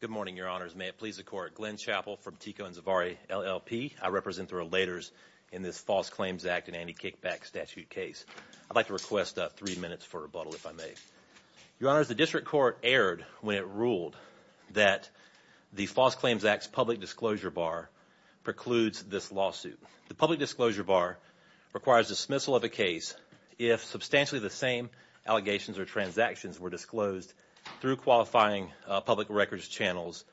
Good morning, Your Honors. May it please the Court, Glenn Chappell from TICO and Zavarri LLP. I represent the relators in this False Claims Act and Anti-Kickback Statute case. I'd like to request three minutes for rebuttal, if I may. Your Honors, the District Court erred when it ruled that the False Claims Act's public disclosure bar precludes this lawsuit. The public disclosure bar requires dismissal of a case if substantially the same allegations or transactions were disclosed through qualifying public records channels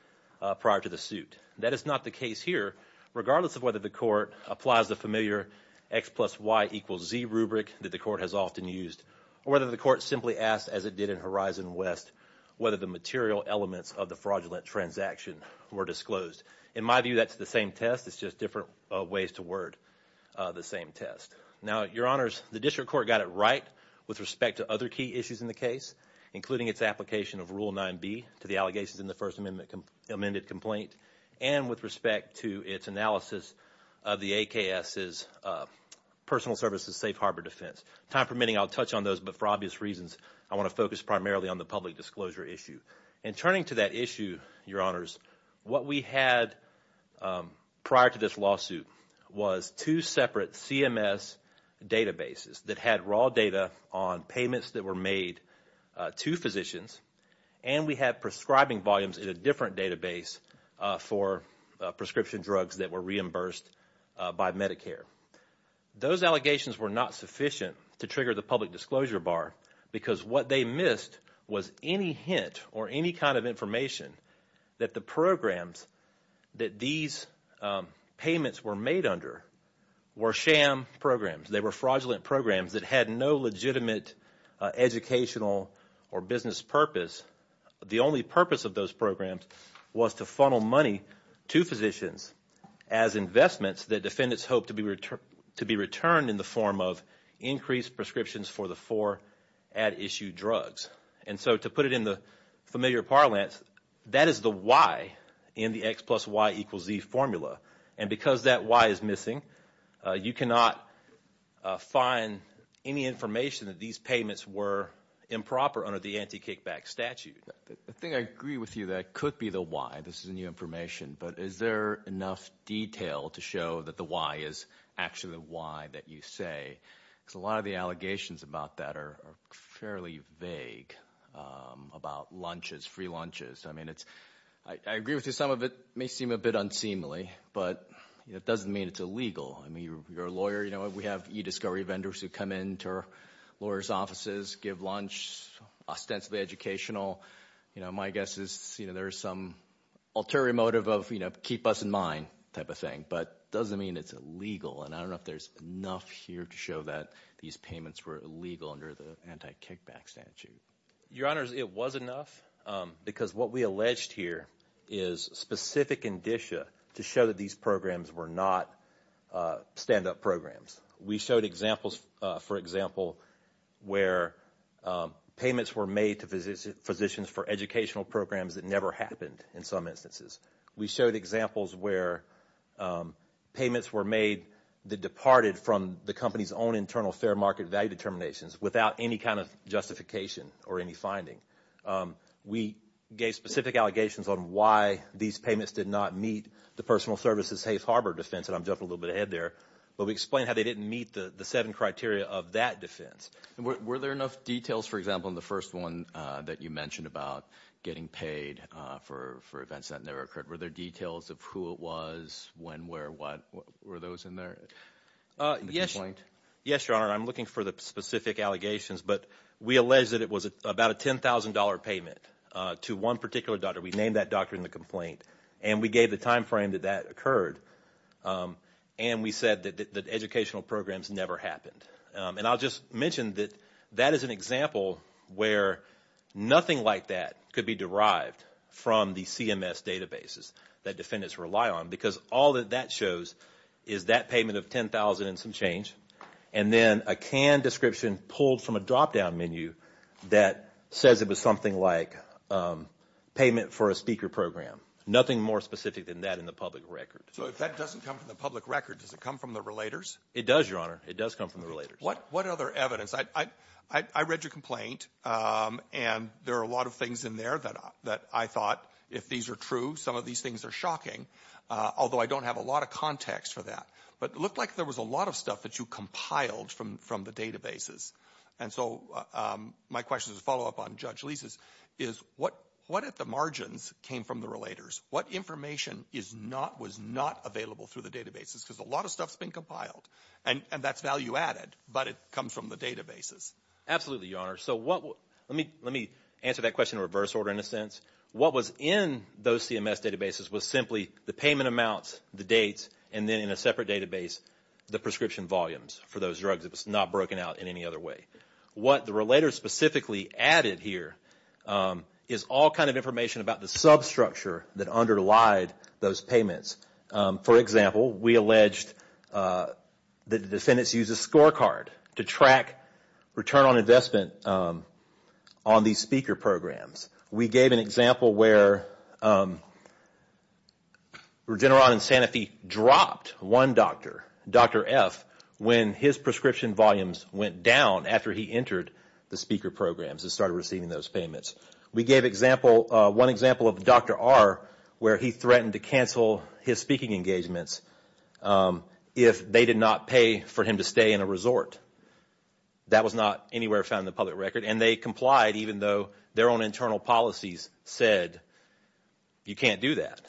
prior to the suit. That is not the case here, regardless of whether the Court applies the familiar X plus Y equals Z rubric that the Court has often used, or whether the Court simply asked, as it did in Horizon West, whether the material elements of the fraudulent transaction were disclosed. In my view, that's the same test. It's just different ways to word the same test. Now, Your Honors, the District Court got it right with respect to other key issues in the case, including its application of Rule 9b to the allegations in the First Amendment amended complaint, and with respect to its analysis of the AKS's Safe Harbor defense. Time permitting, I'll touch on those, but for obvious reasons, I want to focus primarily on the public disclosure issue. In turning to that issue, Your Honors, what we had prior to this lawsuit was two separate CMS databases that had raw data on payments that were made to physicians, and we had prescribing volumes in a different database for prescription drugs that were reimbursed by Medicare. Those allegations were not sufficient to trigger the public disclosure bar, because what they missed was any hint or any kind of information that the programs that these payments were made under were sham programs. They were fraudulent programs that had no legitimate educational or business purpose. The only purpose of those programs was to funnel money to physicians as investments that defendants hoped to be returned in the form of increased prescriptions for the four at issue drugs. To put it in the familiar parlance, that is the Y in the X plus Y equals Z formula, and because that Y is missing, you cannot find any information that these programs were made for. I think I agree with you that it could be the Y. This is new information, but is there enough detail to show that the Y is actually the Y that you say? Because a lot of the allegations about that are fairly vague, about lunches, free lunches. I agree with you, some of it may seem a bit unseemly, but it doesn't mean it's illegal. I mean, you're a lawyer. We have e-discovery vendors who come into lawyers' offices, give lunch, ostensibly educational. My guess is there's some ulterior motive of keep us in mind type of thing, but it doesn't mean it's illegal, and I don't know if there's enough here to show that these payments were illegal under the anti-kickback statute. Your Honors, it was enough, because what we alleged here is specific indicia to show that these programs were not stand-up programs. We showed examples, for example, where payments were made to physicians for educational programs that never happened in some instances. We showed examples where payments were made that departed from the company's own internal fair market value determinations without any kind of justification or any finding. We gave specific allegations on why these payments did not meet the personal services safe harbor defense, and I'm jumping a little bit ahead there, but we explained how they didn't meet the seven criteria of that defense. Were there enough details, for example, in the first one that you mentioned about getting paid for events that never occurred? Were there details of who it was, when, where, what? Were those in there? Yes, Your Honor, I'm looking for the specific allegations, but we allege that it was about a $10,000 payment to one particular doctor. We named that doctor in the complaint, and we gave the time frame that that occurred, and we said that educational programs never happened. And I'll just mention that that is an example where nothing like that could be derived from the CMS databases that defendants rely on, because all that that shows is that payment of $10,000 and some change, and then a canned description pulled from a drop-down menu that says it was something like payment for a speaker program. Nothing more specific than that in the public record. So if that doesn't come from the public record, does it come from the relators? It does, Your Honor. It does come from the relators. What other evidence? I read your complaint, and there are a lot of things in there that I thought, if these are true, some of these things are shocking, although I don't have a lot of context for that. But it looked like there was a lot of stuff that you compiled from the databases. And so my question is a follow-up on Judge Lisa's, is what if the margins came from the relators? What information was not available through the databases? Because a lot of stuff's been compiled, and that's value-added, but it comes from the databases. Absolutely, Your Honor. So let me answer that question in reverse order, in a sense. What was in those CMS databases was simply the payment amounts, the dates, and then in a in any other way. What the relators specifically added here is all kind of information about the substructure that underlied those payments. For example, we alleged that the defendants used a scorecard to track return on investment on these speaker programs. We gave an example where Regeneron and Sanofi dropped one doctor, Dr. F., when his prescription was not available and his prescription volumes went down after he entered the speaker programs and started receiving those payments. We gave one example of Dr. R. where he threatened to cancel his speaking engagements if they did not pay for him to stay in a resort. That was not anywhere found in the public record, and they complied even though their own internal policies said you can't do that.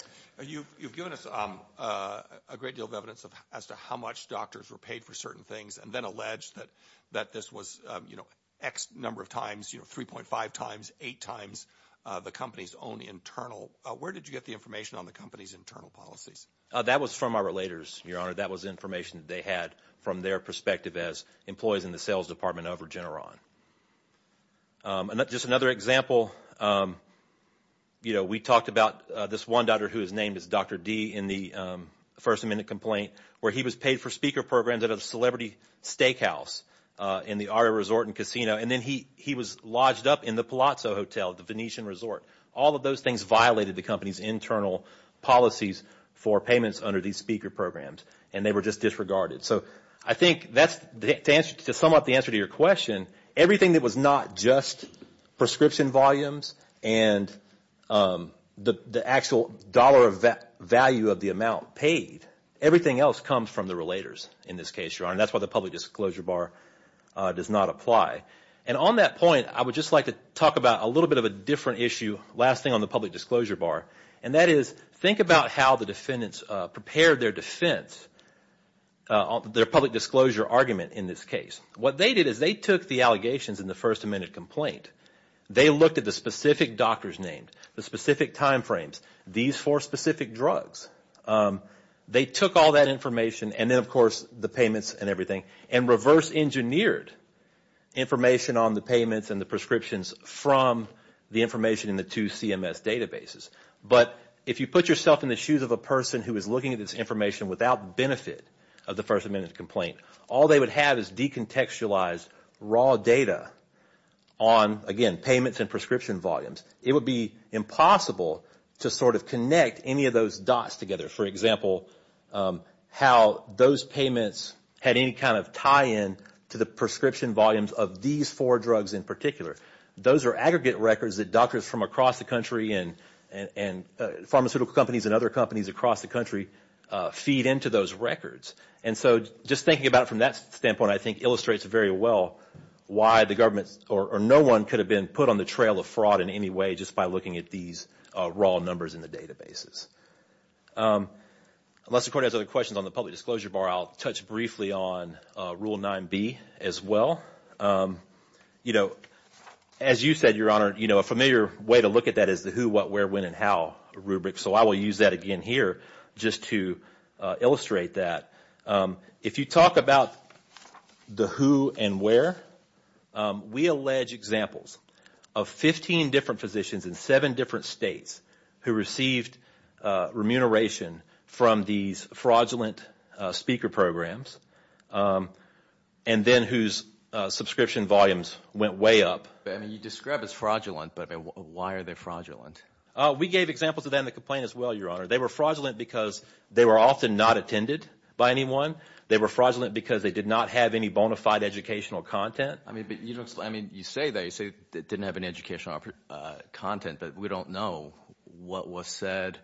You've given us a great deal of evidence as to how much doctors were paid for certain things and then alleged that this was X number of times, 3.5 times, 8 times the company's own internal. Where did you get the information on the company's internal policies? That was from our relators, Your Honor. That was information that they had from their perspective as employees in the sales department of Regeneron. Just another example, we talked about this one doctor who was named as Dr. D. in the First Amendment Complaint where he was paid for speaker programs at a celebrity steakhouse in the Aria Resort and Casino, and then he was lodged up in the Palazzo Hotel, the Venetian resort. All of those things violated the company's internal policies for payments under these speaker programs, and they were just disregarded. I think to sum up the answer to your question, everything that was not just prescription volumes and the actual dollar value of the amount paid, everything else comes from the relators in this case, Your Honor. That's why the Public Disclosure Bar does not apply. On that point, I would just like to talk about a little bit of a different issue, last thing on the Public Disclosure Bar. That is, think about how the defendants prepared their defense, their public disclosure argument in this case. What they did is they took the allegations in the First Amendment Complaint, they looked at the specific doctors named, the specific time frames, these four specific drugs. They took all that information, and then of course the payments and everything, and reverse engineered information on the payments and the prescriptions from the information in the two CMS databases. But if you put yourself in the shoes of a person who is looking at this information without benefit of the First Amendment Complaint, all they would have is decontextualized raw data on, again, payments and prescription volumes. It would be impossible to sort of connect any of those dots together. For example, how those payments had any kind of tie-in to the prescription volumes of these four drugs in particular. Those are aggregate records that doctors from across the country and pharmaceutical companies and other companies across the country feed into those records. And so just thinking about it from that standpoint, I think illustrates very well why the government or no one could have been put on the trail of fraud in any way just by looking at these raw numbers in the databases. Unless the Court has other questions on the Public Disclosure Bar, I will touch briefly on Rule 9b as well. You know, as you said, Your Honor, a familiar way to look at that is the who, what, where, when, and how rubric. So I will use that again here just to illustrate that. If you talk about the who and where, we allege examples of 15 different physicians in seven different states who received remuneration from these fraudulent speaker programs and then whose subscription volumes went way up. You describe it as fraudulent, but why are they fraudulent? We gave examples of that in the complaint as well, Your Honor. They were fraudulent because they were often not attended by anyone. They were fraudulent because they did not have any bona fide educational content. You say that. You say it didn't have any educational content, but we don't know what was said,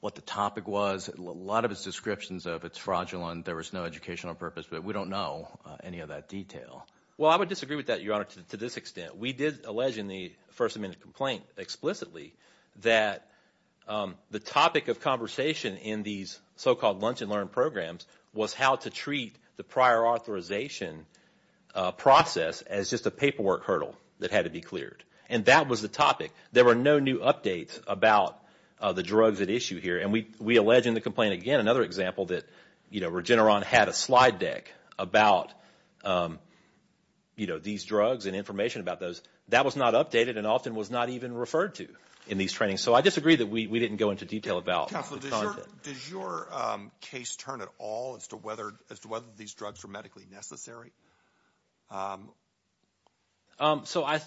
what the topic was. A lot of its descriptions of it's fraudulent, there was no educational purpose, but we don't know any of that detail. Well, I would disagree with that, Your Honor, to this extent. We did allege in the first amendment complaint explicitly that the topic of conversation in these so-called lunch and learn programs was how to treat the prior authorization process as just a paperwork hurdle that had to be cleared. And that was the topic. There were no new updates about the drugs at issue here. And we allege in the complaint again, another example that Regeneron had a slide deck about these drugs and information about those. That was not updated and often was not even referred to in these trainings. So I disagree that we didn't go into detail about the content. Counselor, does your case turn at all as to whether these drugs were medically necessary? So I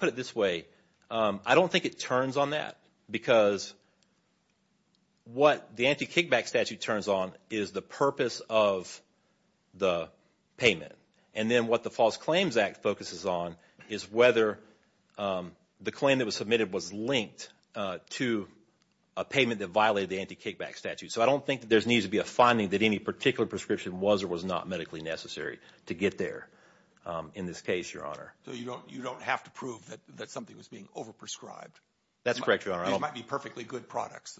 put it this way. I don't think it turns on that because what the anti-kickback statute turns on is the purpose of the payment. And then what the False Claims Act focuses on is whether the claim that was submitted was linked to a payment that violated the anti-kickback statute. So I don't think that there needs to be a finding that any particular prescription was or was not medically necessary to get there in this case, Your Honor. So you don't have to prove that something was being over-prescribed? That's correct, Your Honor. These might be perfectly good products.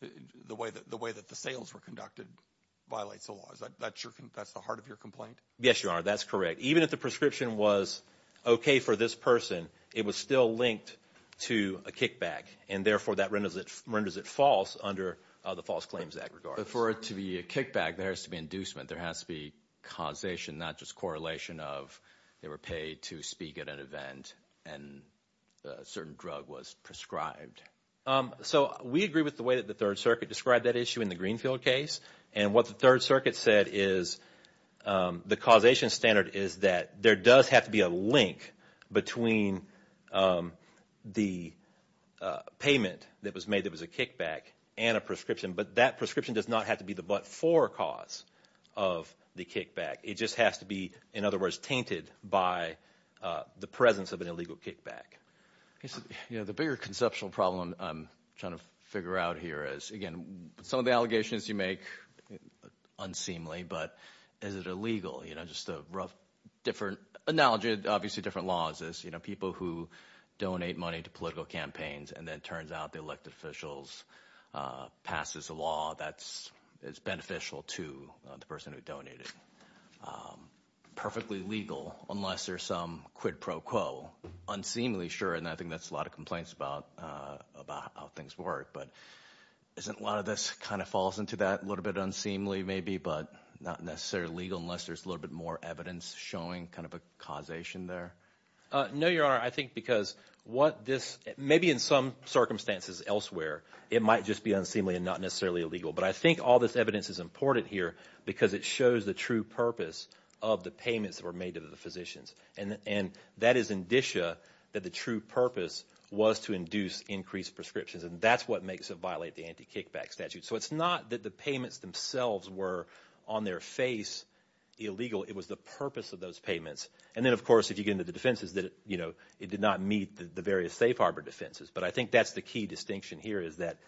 The way that the sales were conducted violates the law. That's the heart of your complaint? Yes, Your Honor. That's correct. Even if the prescription was okay for this person, it was still linked to a kickback. And therefore, that renders it false under the False Claims Act. For it to be a kickback, there has to be an inducement. There has to be causation, not just correlation of they were paid to speak at an event and a certain drug was prescribed. So we agree with the way that the Third Circuit described that issue in the Greenfield case. And what the Third Circuit said is the causation standard is that there does have to be a link between the payment that was made that was a kickback and a prescription. But that prescription does not have to be the but-for cause of the kickback. It just has to be, in other words, tainted by the presence of an illegal kickback. The bigger conceptual problem I'm trying to figure out here is, again, some of the allegations you make, unseemly, but is it illegal? You know, just a rough, different analogy. Obviously, different laws. People who donate money to political campaigns and then it turns out the elected officials pass a law that's beneficial to the person who donated. Perfectly legal unless there's some quid pro quo. Unseemly, sure, and I think that's a lot of complaints about how things work. But isn't a lot of this kind of falls into that, a little bit unseemly maybe, but not necessarily legal unless there's a little bit more evidence showing kind of a causation there? No, Your Honor. I think because what this, maybe in some circumstances elsewhere, it might just be unseemly and not necessarily illegal. But I think all this evidence is important here because it shows the true purpose of the payments that were made to the physicians. And that is indicia that the true purpose was to induce increased prescriptions. And that's what makes it violate the anti-kickback statute. So it's not that the payments themselves were on their face illegal. It was the purpose of those payments. And then, of course, if you get into the defenses, that it did not meet the various safe harbor defenses. But I think that's the key distinction here is that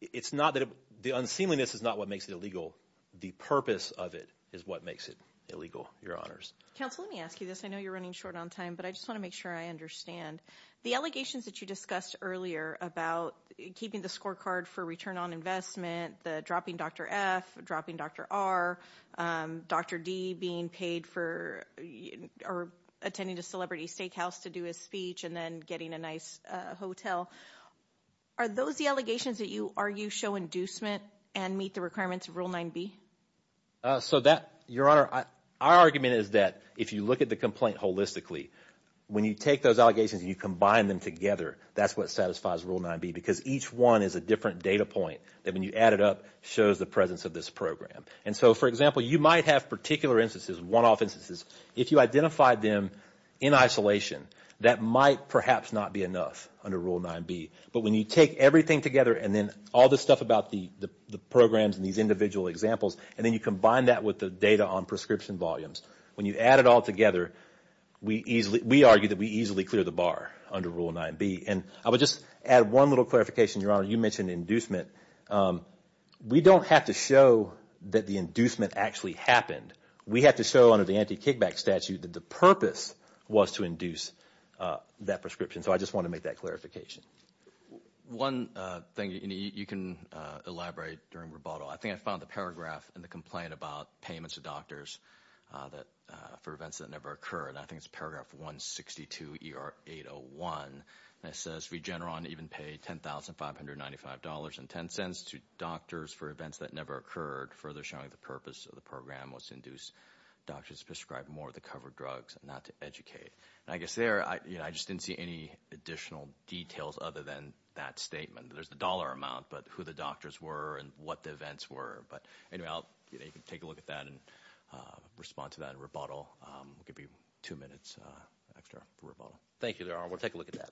it's not that the unseemliness is not what makes it illegal. The purpose of it is what makes it illegal, Your Honors. Counsel, let me ask you this. I know you're running short on time, but I just want to make sure I understand. The allegations that you discussed earlier about keeping the scorecard for return on investment, the dropping Dr. F, dropping Dr. R, Dr. D being paid for, or attending a celebrity steakhouse to do his speech and then getting a nice hotel, are those the allegations that you argue show inducement and meet the requirements of Rule 9B? So that, Your Honor, our argument is that if you look at the complaint holistically, when you take those allegations and you combine them together, that's what satisfies Rule 9B because each one is a different data point that when you add it up shows the presence of this program. And so, for example, you might have particular instances, one-off instances, if you identify them in isolation, that might perhaps not be enough under Rule 9B. But when you take everything together and then all the stuff about the programs and these individual examples and then you combine that with the data on prescription volumes, when you add it all together, we argue that we easily clear the bar under Rule 9B. And I would just add one little clarification, Your Honor. You mentioned inducement. We don't have to show that the inducement actually happened. We have to show under the anti-kickback statute that the purpose was to induce that prescription. So I just want to make that One thing you can elaborate during rebuttal, I think I found the paragraph in the complaint about payments to doctors for events that never occur, and I think it's paragraph 162 of ER 801, and it says Regeneron even paid $10,595.10 to doctors for events that never occurred, further showing the purpose of the program was to induce doctors to prescribe more of the covered drugs and not to educate. And I guess there, I just didn't see any additional details other than that statement. There's the dollar amount, but who the doctors were and what the events were. But anyway, I'll take a look at that and respond to that in rebuttal. I'll give you two minutes extra for rebuttal. Thank you, Your Honor. We'll take a look at that.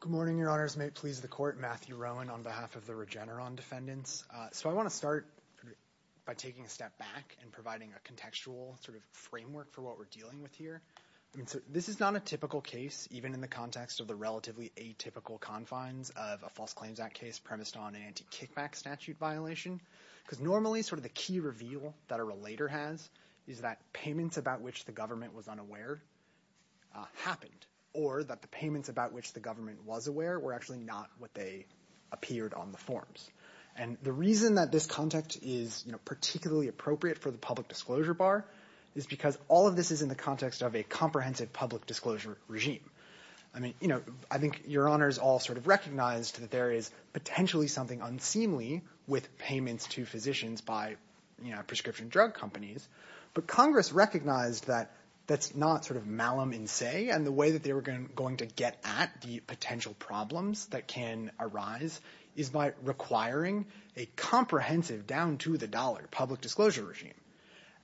Good morning, Your Honors. May it please the Court. Matthew Rowan on behalf of the Regeneron defendants. So I want to start by taking a step back and providing a contextual sort of framework for what we're dealing with here. I mean, this is not a typical case, even in the context of the relatively atypical confines of a False Claims Act case premised on anti-kickback statute violation, because normally sort of the key reveal that a relator has is that payments about which the government was unaware happened, or that the payments about which the government was aware were actually not what they appeared on the forms. And the reason that this context is particularly appropriate for the public disclosure bar is because all of this is in the context of a comprehensive public disclosure regime. I mean, I think Your Honors all sort of recognized that there is potentially something unseemly with payments to physicians by prescription drug companies. But Congress recognized that that's not sort of malum in se, and the way that they were going to get at the potential problems that can arise is by requiring a comprehensive, down to the dollar, public disclosure regime.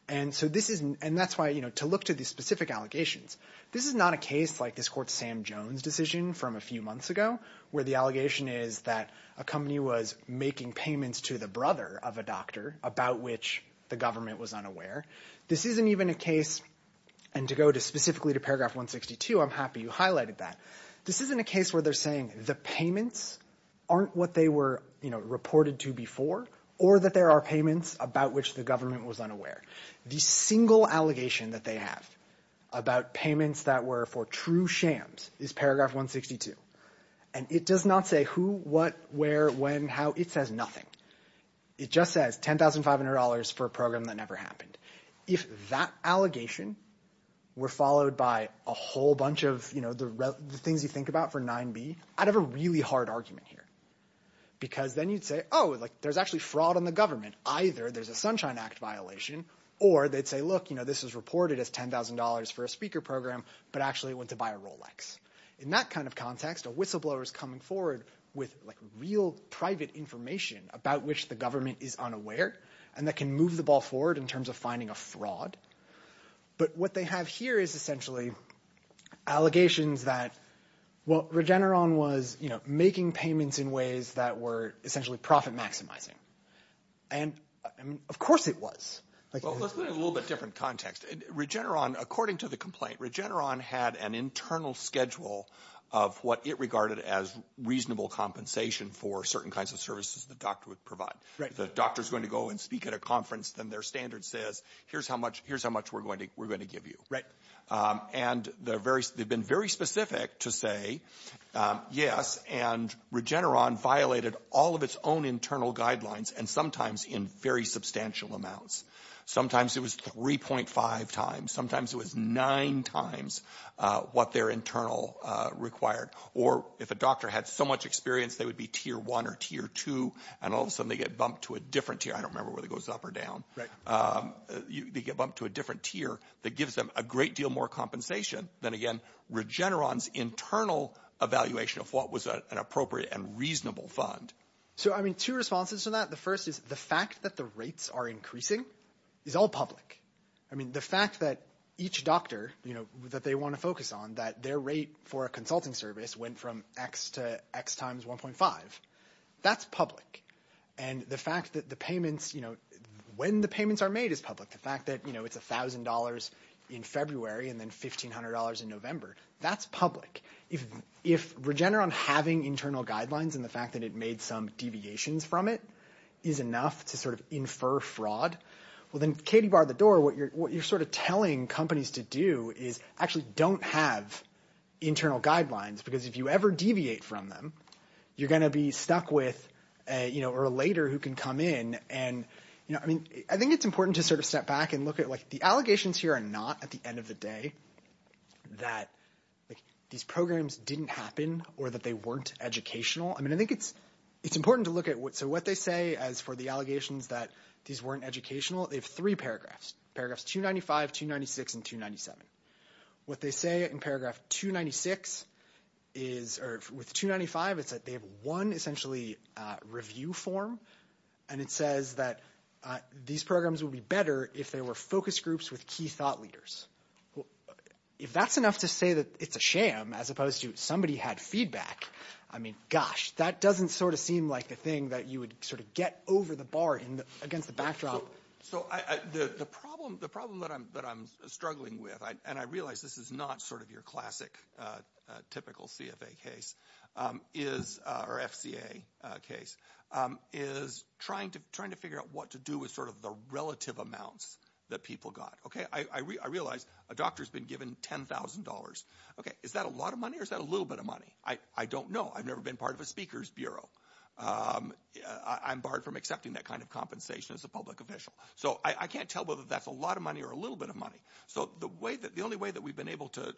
And so this is, and that's why, you know, to look to these specific allegations, this is not a case like this Court's Sam Jones decision from a few months ago, where the allegation is that a company was making payments to the brother of a doctor about which the government was unaware. This isn't even a case, and to go to specifically to paragraph 162, I'm happy you highlighted that. This isn't a case where they're saying the payments aren't what they were, you know, reported to before, or that there are payments about which the government was unaware. The single allegation that they have about payments that were for true shams is paragraph 162. And it does not say who, what, where, when, how, it says nothing. It just says $10,500 for a program that never happened. If that allegation were followed by a whole bunch of, you know, the things you think about for 9B, I'd have a really hard argument here. Because then you'd say, oh, like, there's actually fraud on the government. Either there's a Sunshine Act violation, or they'd say, look, you know, this was reported as $10,000 for a speaker program, but actually it went to buy a Rolex. In that kind of context, a whistleblower's coming forward with, like, real private information about which the government is unaware, and that can move the ball forward in terms of finding a fraud. But what they have here is essentially allegations that, well, Regeneron was, you know, making payments in ways that were essentially profit-maximizing. And, I mean, of course it was. Well, let's put it in a little bit different context. Regeneron, according to the complaint, Regeneron had an internal schedule of what it regarded as reasonable compensation for certain kinds of services the doctor would provide. If the doctor's going to go and speak at a conference, then their standard says, here's how much we're going to give you. And they've been very specific to say, yes, and Regeneron violated all of its own internal guidelines, and sometimes in very substantial amounts. Sometimes it was 3.5 times. Sometimes it was nine times what their internal required. Or if a doctor had so much experience, they would be Tier 1 or Tier 2, and all of a sudden they get bumped to a different tier. I don't remember whether it goes up or down. Right. They get bumped to a different tier that gives them a great deal more compensation than, again, Regeneron's internal evaluation of what was an appropriate and reasonable fund. So I mean, two responses to that. The first is the fact that the rates are increasing is all public. I mean, the fact that each doctor, you know, that they want to focus on that their rate for a consulting service went from X to X times 1.5, that's public. And the fact that the payments, you know, when the payments are made is public. The fact that, you know, it's $1,000 in February and then $1,500 in November, that's public. If Regeneron having internal guidelines and the fact that it made some deviations from it is enough to sort of infer fraud, well, then Katie barred the door. What you're sort of telling companies to do is actually don't have internal guidelines, because if you ever deviate from them, you're going to be stuck with a, you know, or a later who can come in and, you know, I mean, I think it's important to sort of step back and look at like the allegations here are not at the end of the day that these programs didn't happen or that they weren't educational. I mean, I think it's important to look at what so what they say as for the allegations that these weren't educational, they have three paragraphs. Paragraphs 296 and 297. What they say in paragraph 296 is or with 295 is that they have one essentially review form and it says that these programs will be better if they were focus groups with key thought leaders. If that's enough to say that it's a sham as opposed to somebody had feedback, I mean, gosh, that doesn't sort of seem like a thing that you would sort of get over the bar against the backdrop. So the problem that I'm struggling with, and I realize this is not sort of your classic typical CFA case, or FCA case, is trying to figure out what to do with sort of the relative amounts that people got. Okay, I realize a doctor's been given $10,000. Okay, is that a lot of money or is that a little bit of money? I don't know. I've never been part of a speaker's bureau. I'm barred from accepting that kind of compensation as a public official. So I can't tell whether that's a lot of money or a little bit of money. So the only way that we've been able to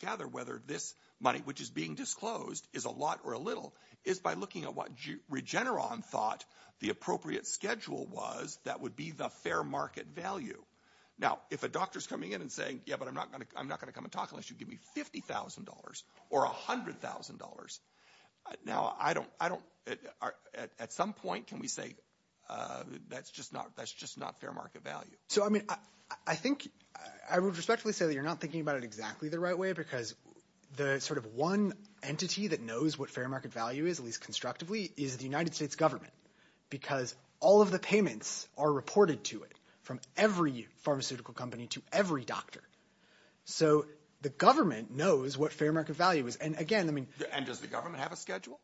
gather whether this money, which is being disclosed, is a lot or a little is by looking at what Regeneron thought the appropriate schedule was that would be the fair market value. Now, if a doctor's coming in and saying, yeah, but I'm not going to come and talk unless you give me $50,000 or $100,000. Now, at some point, can we say that's just not fair market value? So, I mean, I think I would respectfully say that you're not thinking about it exactly the right way because the sort of one entity that knows what fair market value is, at least constructively, is the United States government. Because all of the payments are reported to it from every pharmaceutical company to every doctor. So the government knows what fair market value is. And again, I mean- And does the government have a schedule?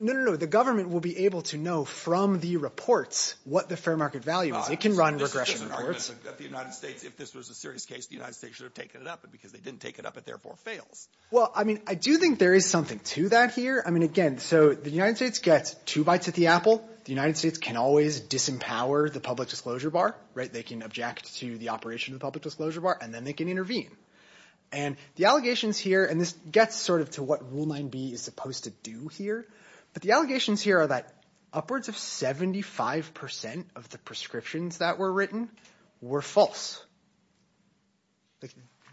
No, no, no. The government will be able to know from the reports what the fair market value is. It can run regression reports. This is an argument that the United States, if this was a serious case, the United States should have taken it up. But because they didn't take it up, it therefore fails. Well, I mean, I do think there is something to that here. I mean, again, so the United States gets two bites at the apple. The United States can always disempower the public disclosure bar, right? They can object to the operation of the public disclosure bar and then they can intervene. And the allegations here, and this gets sort of to what Rule 9b is supposed to do here, but the allegations here are that upwards of 75% of the prescriptions that were written were false.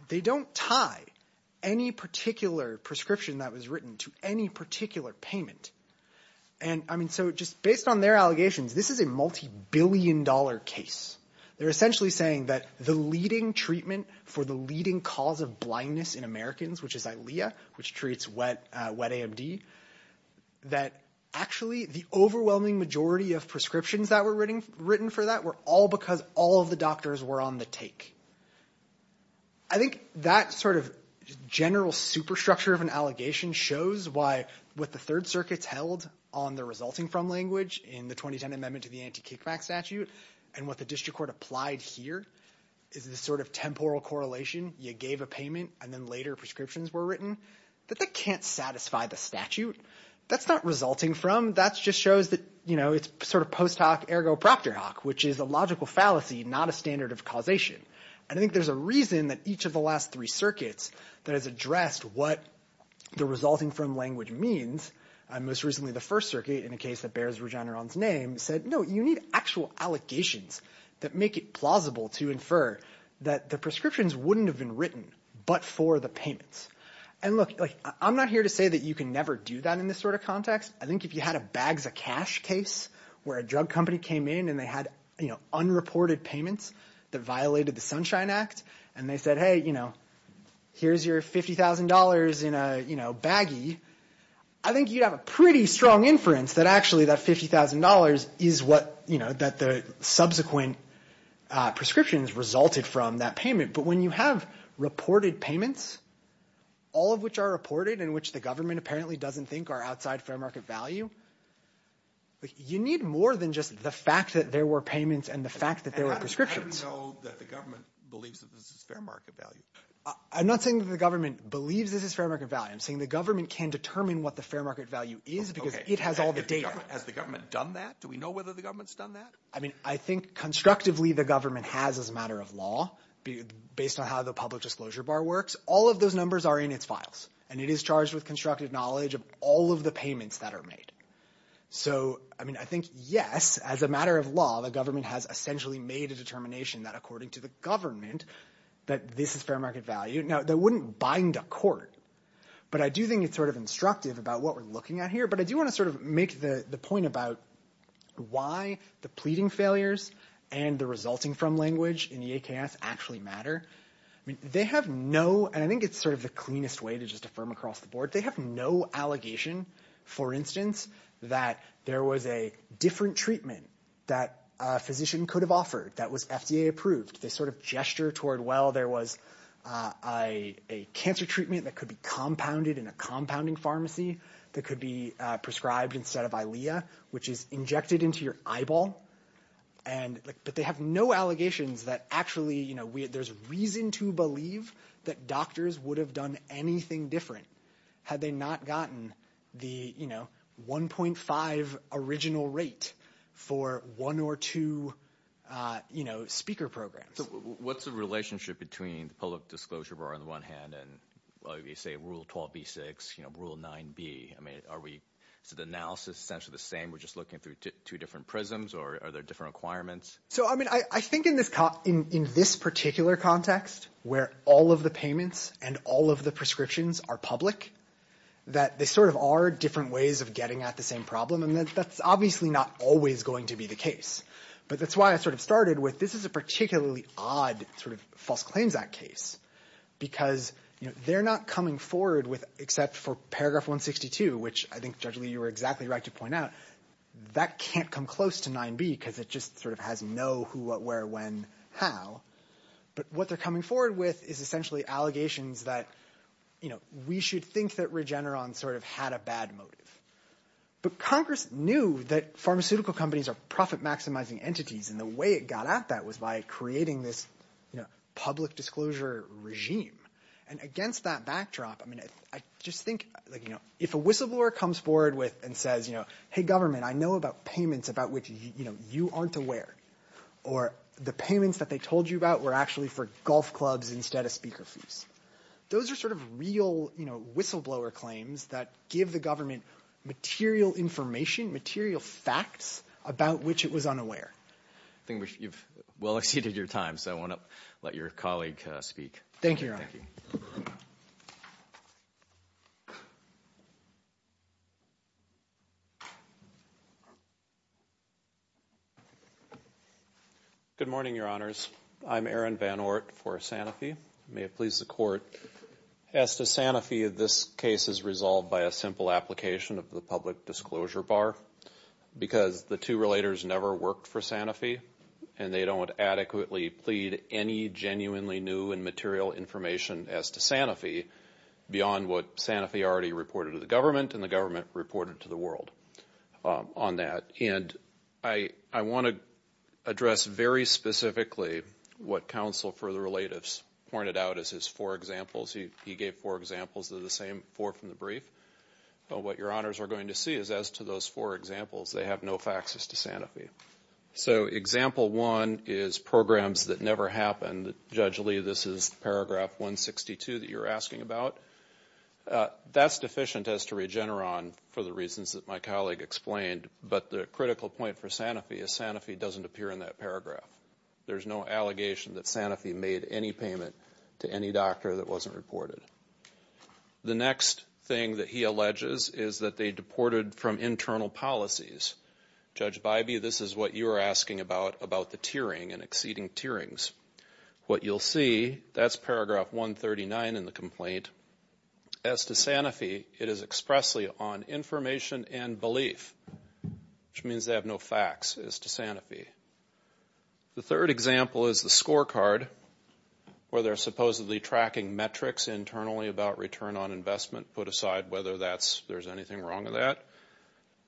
They don't tie any particular prescription that was written to any particular payment. And I mean, so just based on their allegations, this is a multi-billion dollar case. They're essentially saying that the leading treatment for the leading cause of blindness in Americans, which is ILEA, which treats wet AMD, that actually the overwhelming majority of prescriptions that were written for that were all because all of the doctors were on the take. I think that sort of general superstructure of an allegation shows why with the Third Circuit's held on the resulting from language in the 2010 amendment to the anti-kickback statute and what the district court applied here is this sort of temporal correlation. You gave a payment and then later prescriptions were written that they can't satisfy the statute. That's not resulting from, that's just shows that, you know, it's sort of post hoc ergo proctor hoc, which is a logical fallacy, not a standard of causation. And I think there's a reason that each of the last three circuits that has addressed what the resulting from language means, most recently the First Circuit in a case that bears Regeneron's name said, no, you need actual allegations that make it plausible to infer that the prescriptions wouldn't have been written but for the payments. And look, I'm not here to say that you can never do that in this sort of context. I think if you had a bags of cash case where a drug company came in and they had, you know, unreported payments that violated the Sunshine Act and they said, hey, you know, here's your $50,000 in a, you know, baggy, I think you'd have a pretty strong inference that actually that $50,000 is what, you know, that the subsequent prescriptions resulted from that payment. But when you have reported payments, all of which are reported and which the government apparently doesn't think are outside fair market value, you need more than just the fact that there were payments and the fact that there were prescriptions. How do we know that the government believes that this is fair market value? I'm not saying that the government believes this is fair market value. I'm saying the government can determine what the fair market value is because it has all the data. Has the government done that? Do we know whether the government's done that? I mean, I think constructively the government has as a matter of law based on how the public disclosure bar works. All of those numbers are in its files and it is charged with knowledge of all of the payments that are made. So, I mean, I think, yes, as a matter of law, the government has essentially made a determination that according to the government that this is fair market value. Now, that wouldn't bind a court, but I do think it's sort of instructive about what we're looking at here. But I do want to sort of make the point about why the pleading failures and the resulting from language in the AKS actually matter. I mean, they have no, and I think it's sort of the cleanest way to just affirm across the board. They have no allegation, for instance, that there was a different treatment that a physician could have offered that was FDA approved. They sort of gesture toward, well, there was a cancer treatment that could be compounded in a compounding pharmacy that could be prescribed instead of ILEA, which is injected into your eyeball. But they have no allegations that actually there's reason to believe that doctors would have done anything different had they not gotten the, you know, 1.5 original rate for one or two, you know, speaker programs. What's the relationship between the public disclosure bar on the one hand and, well, you say rule 12b6, you know, rule 9b. I mean, are we, is the analysis essentially the same? We're just looking through two different prisms or are there different requirements? So, I mean, I think in this particular context, where all of the payments and all of the prescriptions are public, that they sort of are different ways of getting at the same problem. And that's obviously not always going to be the case. But that's why I sort of started with this is a particularly odd sort of False Claims Act case because, you know, they're not coming forward with, except for paragraph 162, which I think, Judge Lee, you were exactly right to point out, that can't come close to 9b because it just sort of has no who, what, where, when, how. But what they're coming forward with is essentially allegations that, you know, we should think that Regeneron sort of had a bad motive. But Congress knew that pharmaceutical companies are profit maximizing entities and the way it got at that was by creating this, you know, public disclosure regime. And against that backdrop, I mean, I just think, you know, if a whistleblower comes forward with and says, you know, government, I know about payments about which, you know, you aren't aware. Or the payments that they told you about were actually for golf clubs instead of speaker fees. Those are sort of real, you know, whistleblower claims that give the government material information, material facts about which it was unaware. I think you've well exceeded your time. So I want to let your colleague speak. Thank you. Good morning, your honors. I'm Aaron Van Oort for Sanofi. May it please the court. As to Sanofi, this case is resolved by a simple application of the public disclosure bar because the two relators never worked for Sanofi and they don't adequately plead any genuinely new and material information as to Sanofi beyond what Sanofi already reported to the government and the government reported to the world on that. And I want to address very specifically what counsel for the relatives pointed out as his four examples. He gave four examples of the same four from the brief. What your honors are going to see is as to those four examples, they have no faxes to Sanofi. So example one is programs that never happened. Judge Lee, this is paragraph 162 that you're asking about. That's deficient as to Regeneron for the reasons that my colleague explained. But the critical point for Sanofi is Sanofi doesn't appear in that paragraph. There's no allegation that Sanofi made any payment to any doctor that wasn't reported. The next thing that he alleges is that they deported from internal policies. Judge Bybee, this is what you're asking about, about the tiering and exceeding tierings. What you'll see, that's paragraph 139 in the complaint. As to Sanofi, it is expressly on information and belief, which means they have no fax as to Sanofi. The third example is the scorecard where they're supposedly tracking metrics internally about return on investment, put aside whether there's anything wrong with that.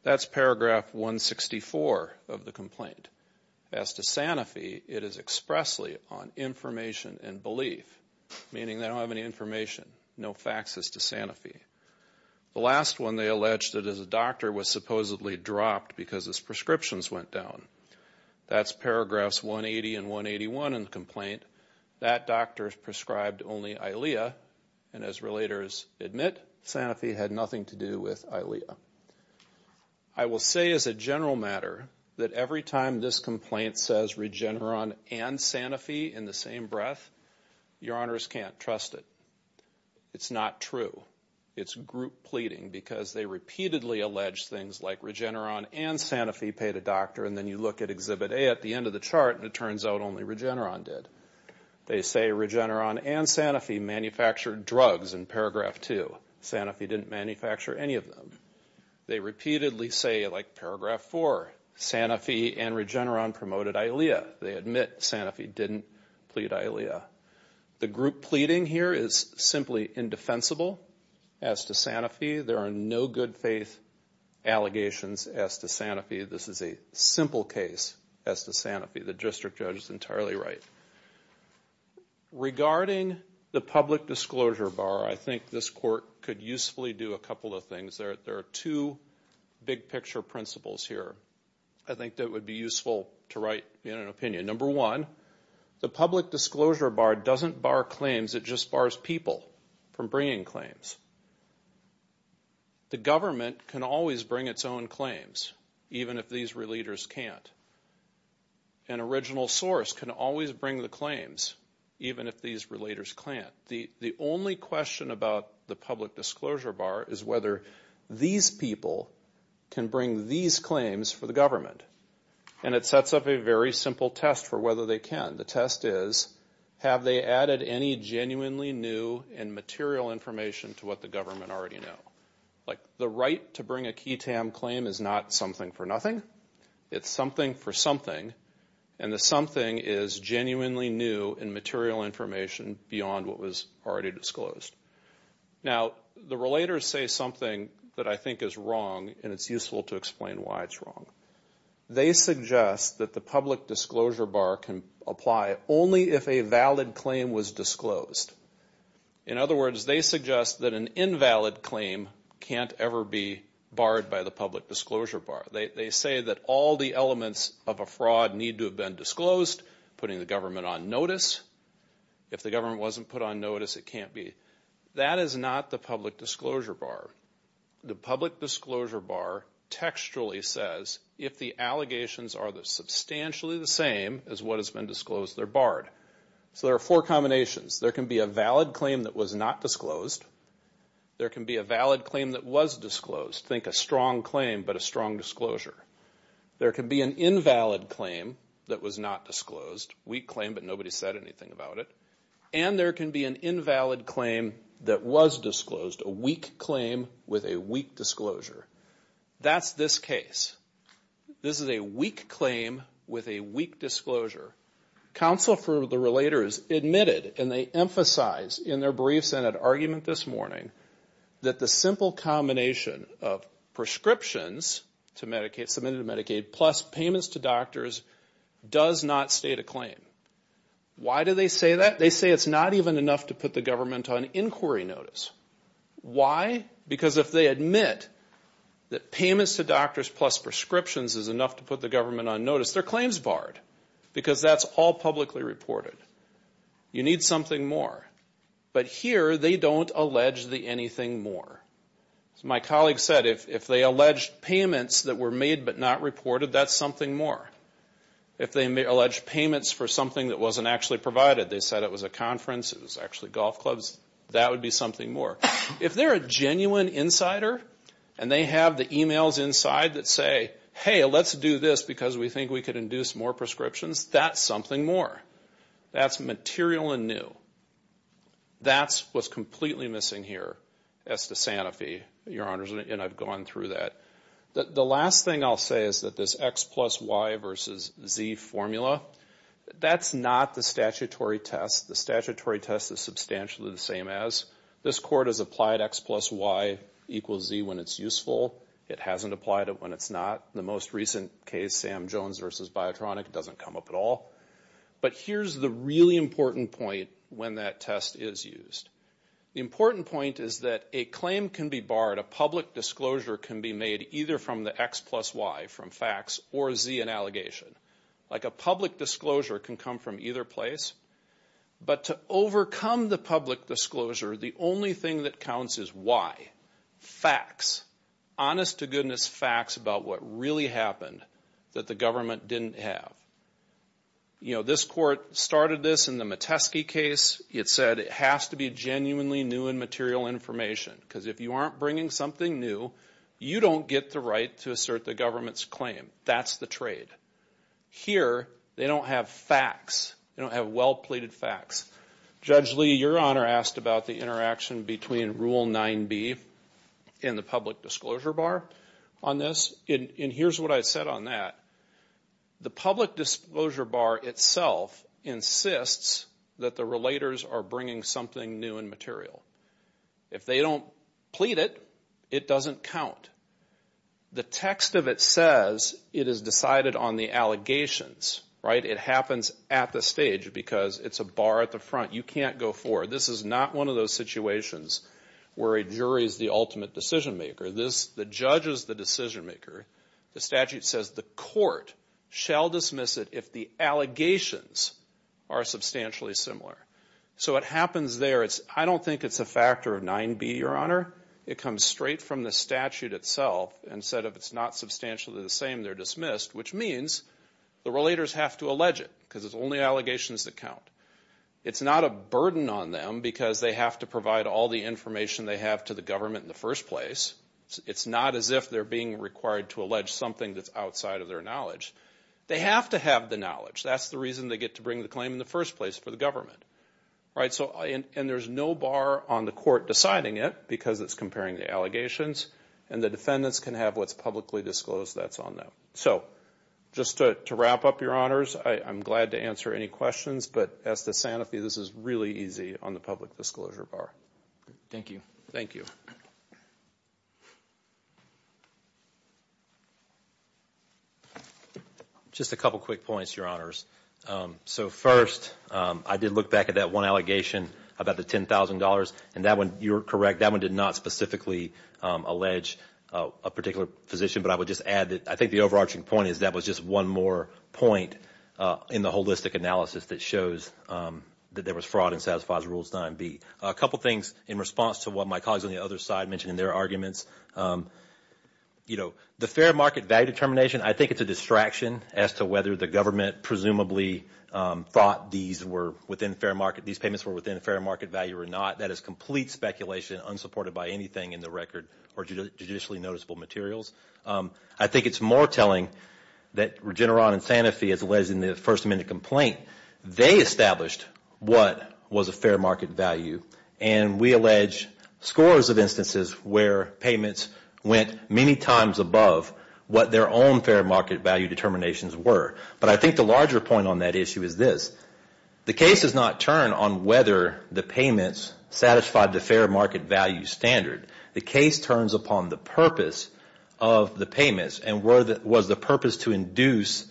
That's paragraph 164 of the complaint. As to Sanofi, it is expressly on information and belief, meaning they don't have any information, no faxes to Sanofi. The last one, they allege that as a doctor was supposedly dropped because his prescriptions went down. That's paragraphs 180 and 181 in the complaint. That doctor prescribed only ILEA. And as the investigators admit, Sanofi had nothing to do with ILEA. I will say as a general matter that every time this complaint says Regeneron and Sanofi in the same breath, your honors can't trust it. It's not true. It's group pleading because they repeatedly allege things like Regeneron and Sanofi paid a doctor and then you look at Exhibit A at the end of the chart and it turns out only Regeneron did. They say Regeneron and Sanofi manufactured drugs in paragraph 2. Sanofi didn't manufacture any of them. They repeatedly say like paragraph 4, Sanofi and Regeneron promoted ILEA. They admit Sanofi didn't plead ILEA. The group pleading here is simply indefensible as to Sanofi. There are no good faith allegations as to Sanofi. This is a simple case as to Sanofi. The district judge is entirely right. Regarding the public disclosure bar, I think this court could usefully do a couple of things. There are two big picture principles here I think that would be useful to write in an opinion. Number one, the public disclosure bar doesn't bar claims. It just bars people from bringing claims. The government can always bring its own claims even if these relators can't. An original source can always bring the claims even if these relators can't. The only question about the public disclosure bar is whether these people can bring these claims for the government. And it sets up a very simple test for whether they can. The test is have they added any genuinely new and material information to what the government already know? Like the right to bring a key TAM claim is not something for nothing. It's something for something. And the something is genuinely new and material information beyond what was already disclosed. Now, the relators say something that I think is wrong and it's useful to explain why it's wrong. They suggest that the public disclosure bar can apply only if a valid claim was disclosed. In other words, they suggest that an invalid claim can't ever be barred by the public disclosure bar. They say that all the elements of a fraud need to have been disclosed, putting the government on notice. If the government wasn't put on notice, it can't be. That is not the public disclosure bar. The public disclosure bar textually says if the allegations are substantially the same as what can be a valid claim that was not disclosed. There can be a valid claim that was disclosed. Think a strong claim but a strong disclosure. There can be an invalid claim that was not disclosed, weak claim but nobody said anything about it. And there can be an invalid claim that was disclosed, a weak claim with a weak disclosure. That's this case. This is a weak claim with a weak disclosure. Counsel for the relators admitted and they emphasize in their brief Senate argument this morning that the simple combination of prescriptions to Medicaid, submitted to Medicaid, plus payments to doctors does not state a claim. Why do they say that? They say it's not even enough to put the government on inquiry notice. Why? Because if they admit that payments to doctors plus prescriptions is enough to put the government on notice, their claim is barred because that's all publicly reported. You need something more. But here, they don't allege the anything more. As my colleague said, if they alleged payments that were made but not reported, that's something more. If they allege payments for something that wasn't actually provided, they said it was a conference, it was actually golf clubs, that would be something more. If they're a genuine insider and they have the emails inside that say, hey, let's do this because we think we could induce more prescriptions, that's something more. That's material and new. That's what's completely missing here as to Santa Fe, your honors, and I've gone through that. The last thing I'll say is that this X plus Y versus Z formula, that's not the statutory test. The statutory test is substantially the same as. This court has applied X plus Y equals Z when it's useful. It hasn't applied it when it's not. The most recent case, Sam Jones versus Biotronic, doesn't come up at all. But here's the really important point when that test is used. The important point is that a claim can be barred. A public disclosure can be made either from the X plus Y, from facts, or Z in like a public disclosure can come from either place. But to overcome the public disclosure, the only thing that counts is why. Facts. Honest to goodness facts about what really happened that the government didn't have. You know, this court started this in the Metesky case. It said it has to be genuinely new and material information because if you aren't bringing something new, you don't get the right to assert the government's claim. That's the trade. Here, they don't have facts. They don't have well-pleaded facts. Judge Lee, your honor, asked about the interaction between Rule 9b and the public disclosure bar on this, and here's what I said on that. The public disclosure bar itself insists that the plead it. It doesn't count. The text of it says it is decided on the allegations, right? It happens at the stage because it's a bar at the front. You can't go forward. This is not one of those situations where a jury is the ultimate decision maker. The judge is the decision maker. The statute says the court shall dismiss it if the allegations are substantially similar. So it happens there. I don't think it's a factor of 9b, your honor. It comes straight from the statute itself and said if it's not substantially the same, they're dismissed, which means the relators have to allege it because it's only allegations that count. It's not a burden on them because they have to provide all the information they have to the government in the first place. It's not as if they're being required to allege something that's outside of their knowledge. They have to have the knowledge. That's the reason they get to bring the claim in the first place for the government. And there's no bar on the court deciding it because it's comparing the allegations and the defendants can have what's publicly disclosed that's on them. So just to wrap up, your honors, I'm glad to answer any questions, but as to Sanofi, this is really easy on the public disclosure bar. Thank you. Thank you. Just a couple quick points, your honors. So first, I did look back at that one allegation about the $10,000 and that one, you're correct, that one did not specifically allege a particular position, but I would just add that I think the overarching point is that was just one more point in the holistic analysis that shows that there was fraud and satisfies Rules 9B. A couple things in response to what my colleagues on the other side mentioned in their arguments. The fair market value determination, I think it's a distraction as to whether the government presumably thought these were within fair market, these payments were within fair market value or not. That is complete speculation unsupported by anything in the record or judicially noticeable materials. I think it's more telling that Regeneron and Sanofi, as alleged in the First Amendment complaint, they established what was a fair market value and we allege scores of instances where payments went many times above what their own fair market value determinations were. But I think the larger point on that issue is this. The case does not turn on whether the payments satisfied the fair market value standard. The case turns upon the purpose of the payments and was the purpose to induce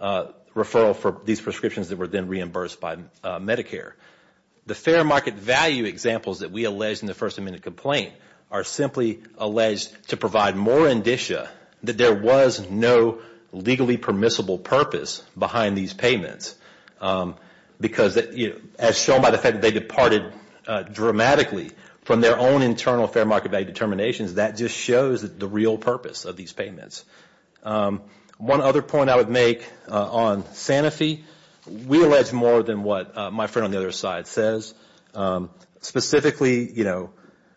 referral for these prescriptions that were then reimbursed by Medicare. The fair market value examples that we allege in the First Amendment complaint are simply alleged to provide more indicia that there was no legally permissible purpose behind these payments because as shown by the fact that they departed dramatically from their own internal fair market value determinations, that just shows the real purpose of these payments. One other point I would make on Sanofi, we allege more than what my friend on the other side says. Specifically,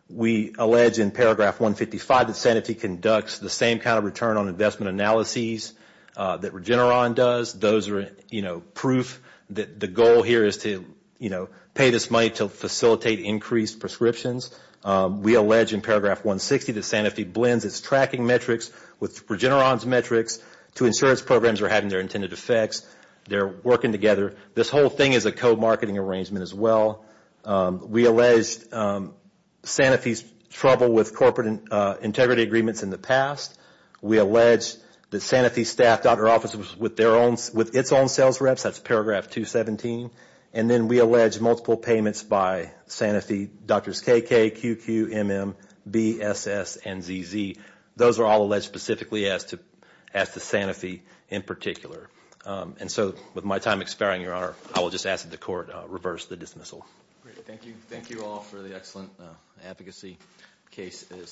we allege in paragraph 155 that Sanofi conducts the same kind of return on investment analysis that Regeneron does. Those are proof that the goal here is to pay this money to facilitate increased prescriptions. We allege in paragraph 160 that Sanofi blends its tracking metrics with Regeneron's metrics to ensure its programs are having their intended effects. They are working together. This whole thing is a co-marketing arrangement as well. We allege Sanofi's trouble with corporate integrity agreements in the past. We allege that Sanofi staffed out their offices with its own sales reps. That's paragraph 217. And then we allege multiple payments by Sanofi, Drs. KK, QQ, MM, B, SS, and ZZ. Those are all alleged specifically as to Sanofi in particular. And so with my time expiring, your honor, I will just ask that the court reverse the dismissal. Great. Thank you. Thank you all for the excellent advocacy. Case is submitted.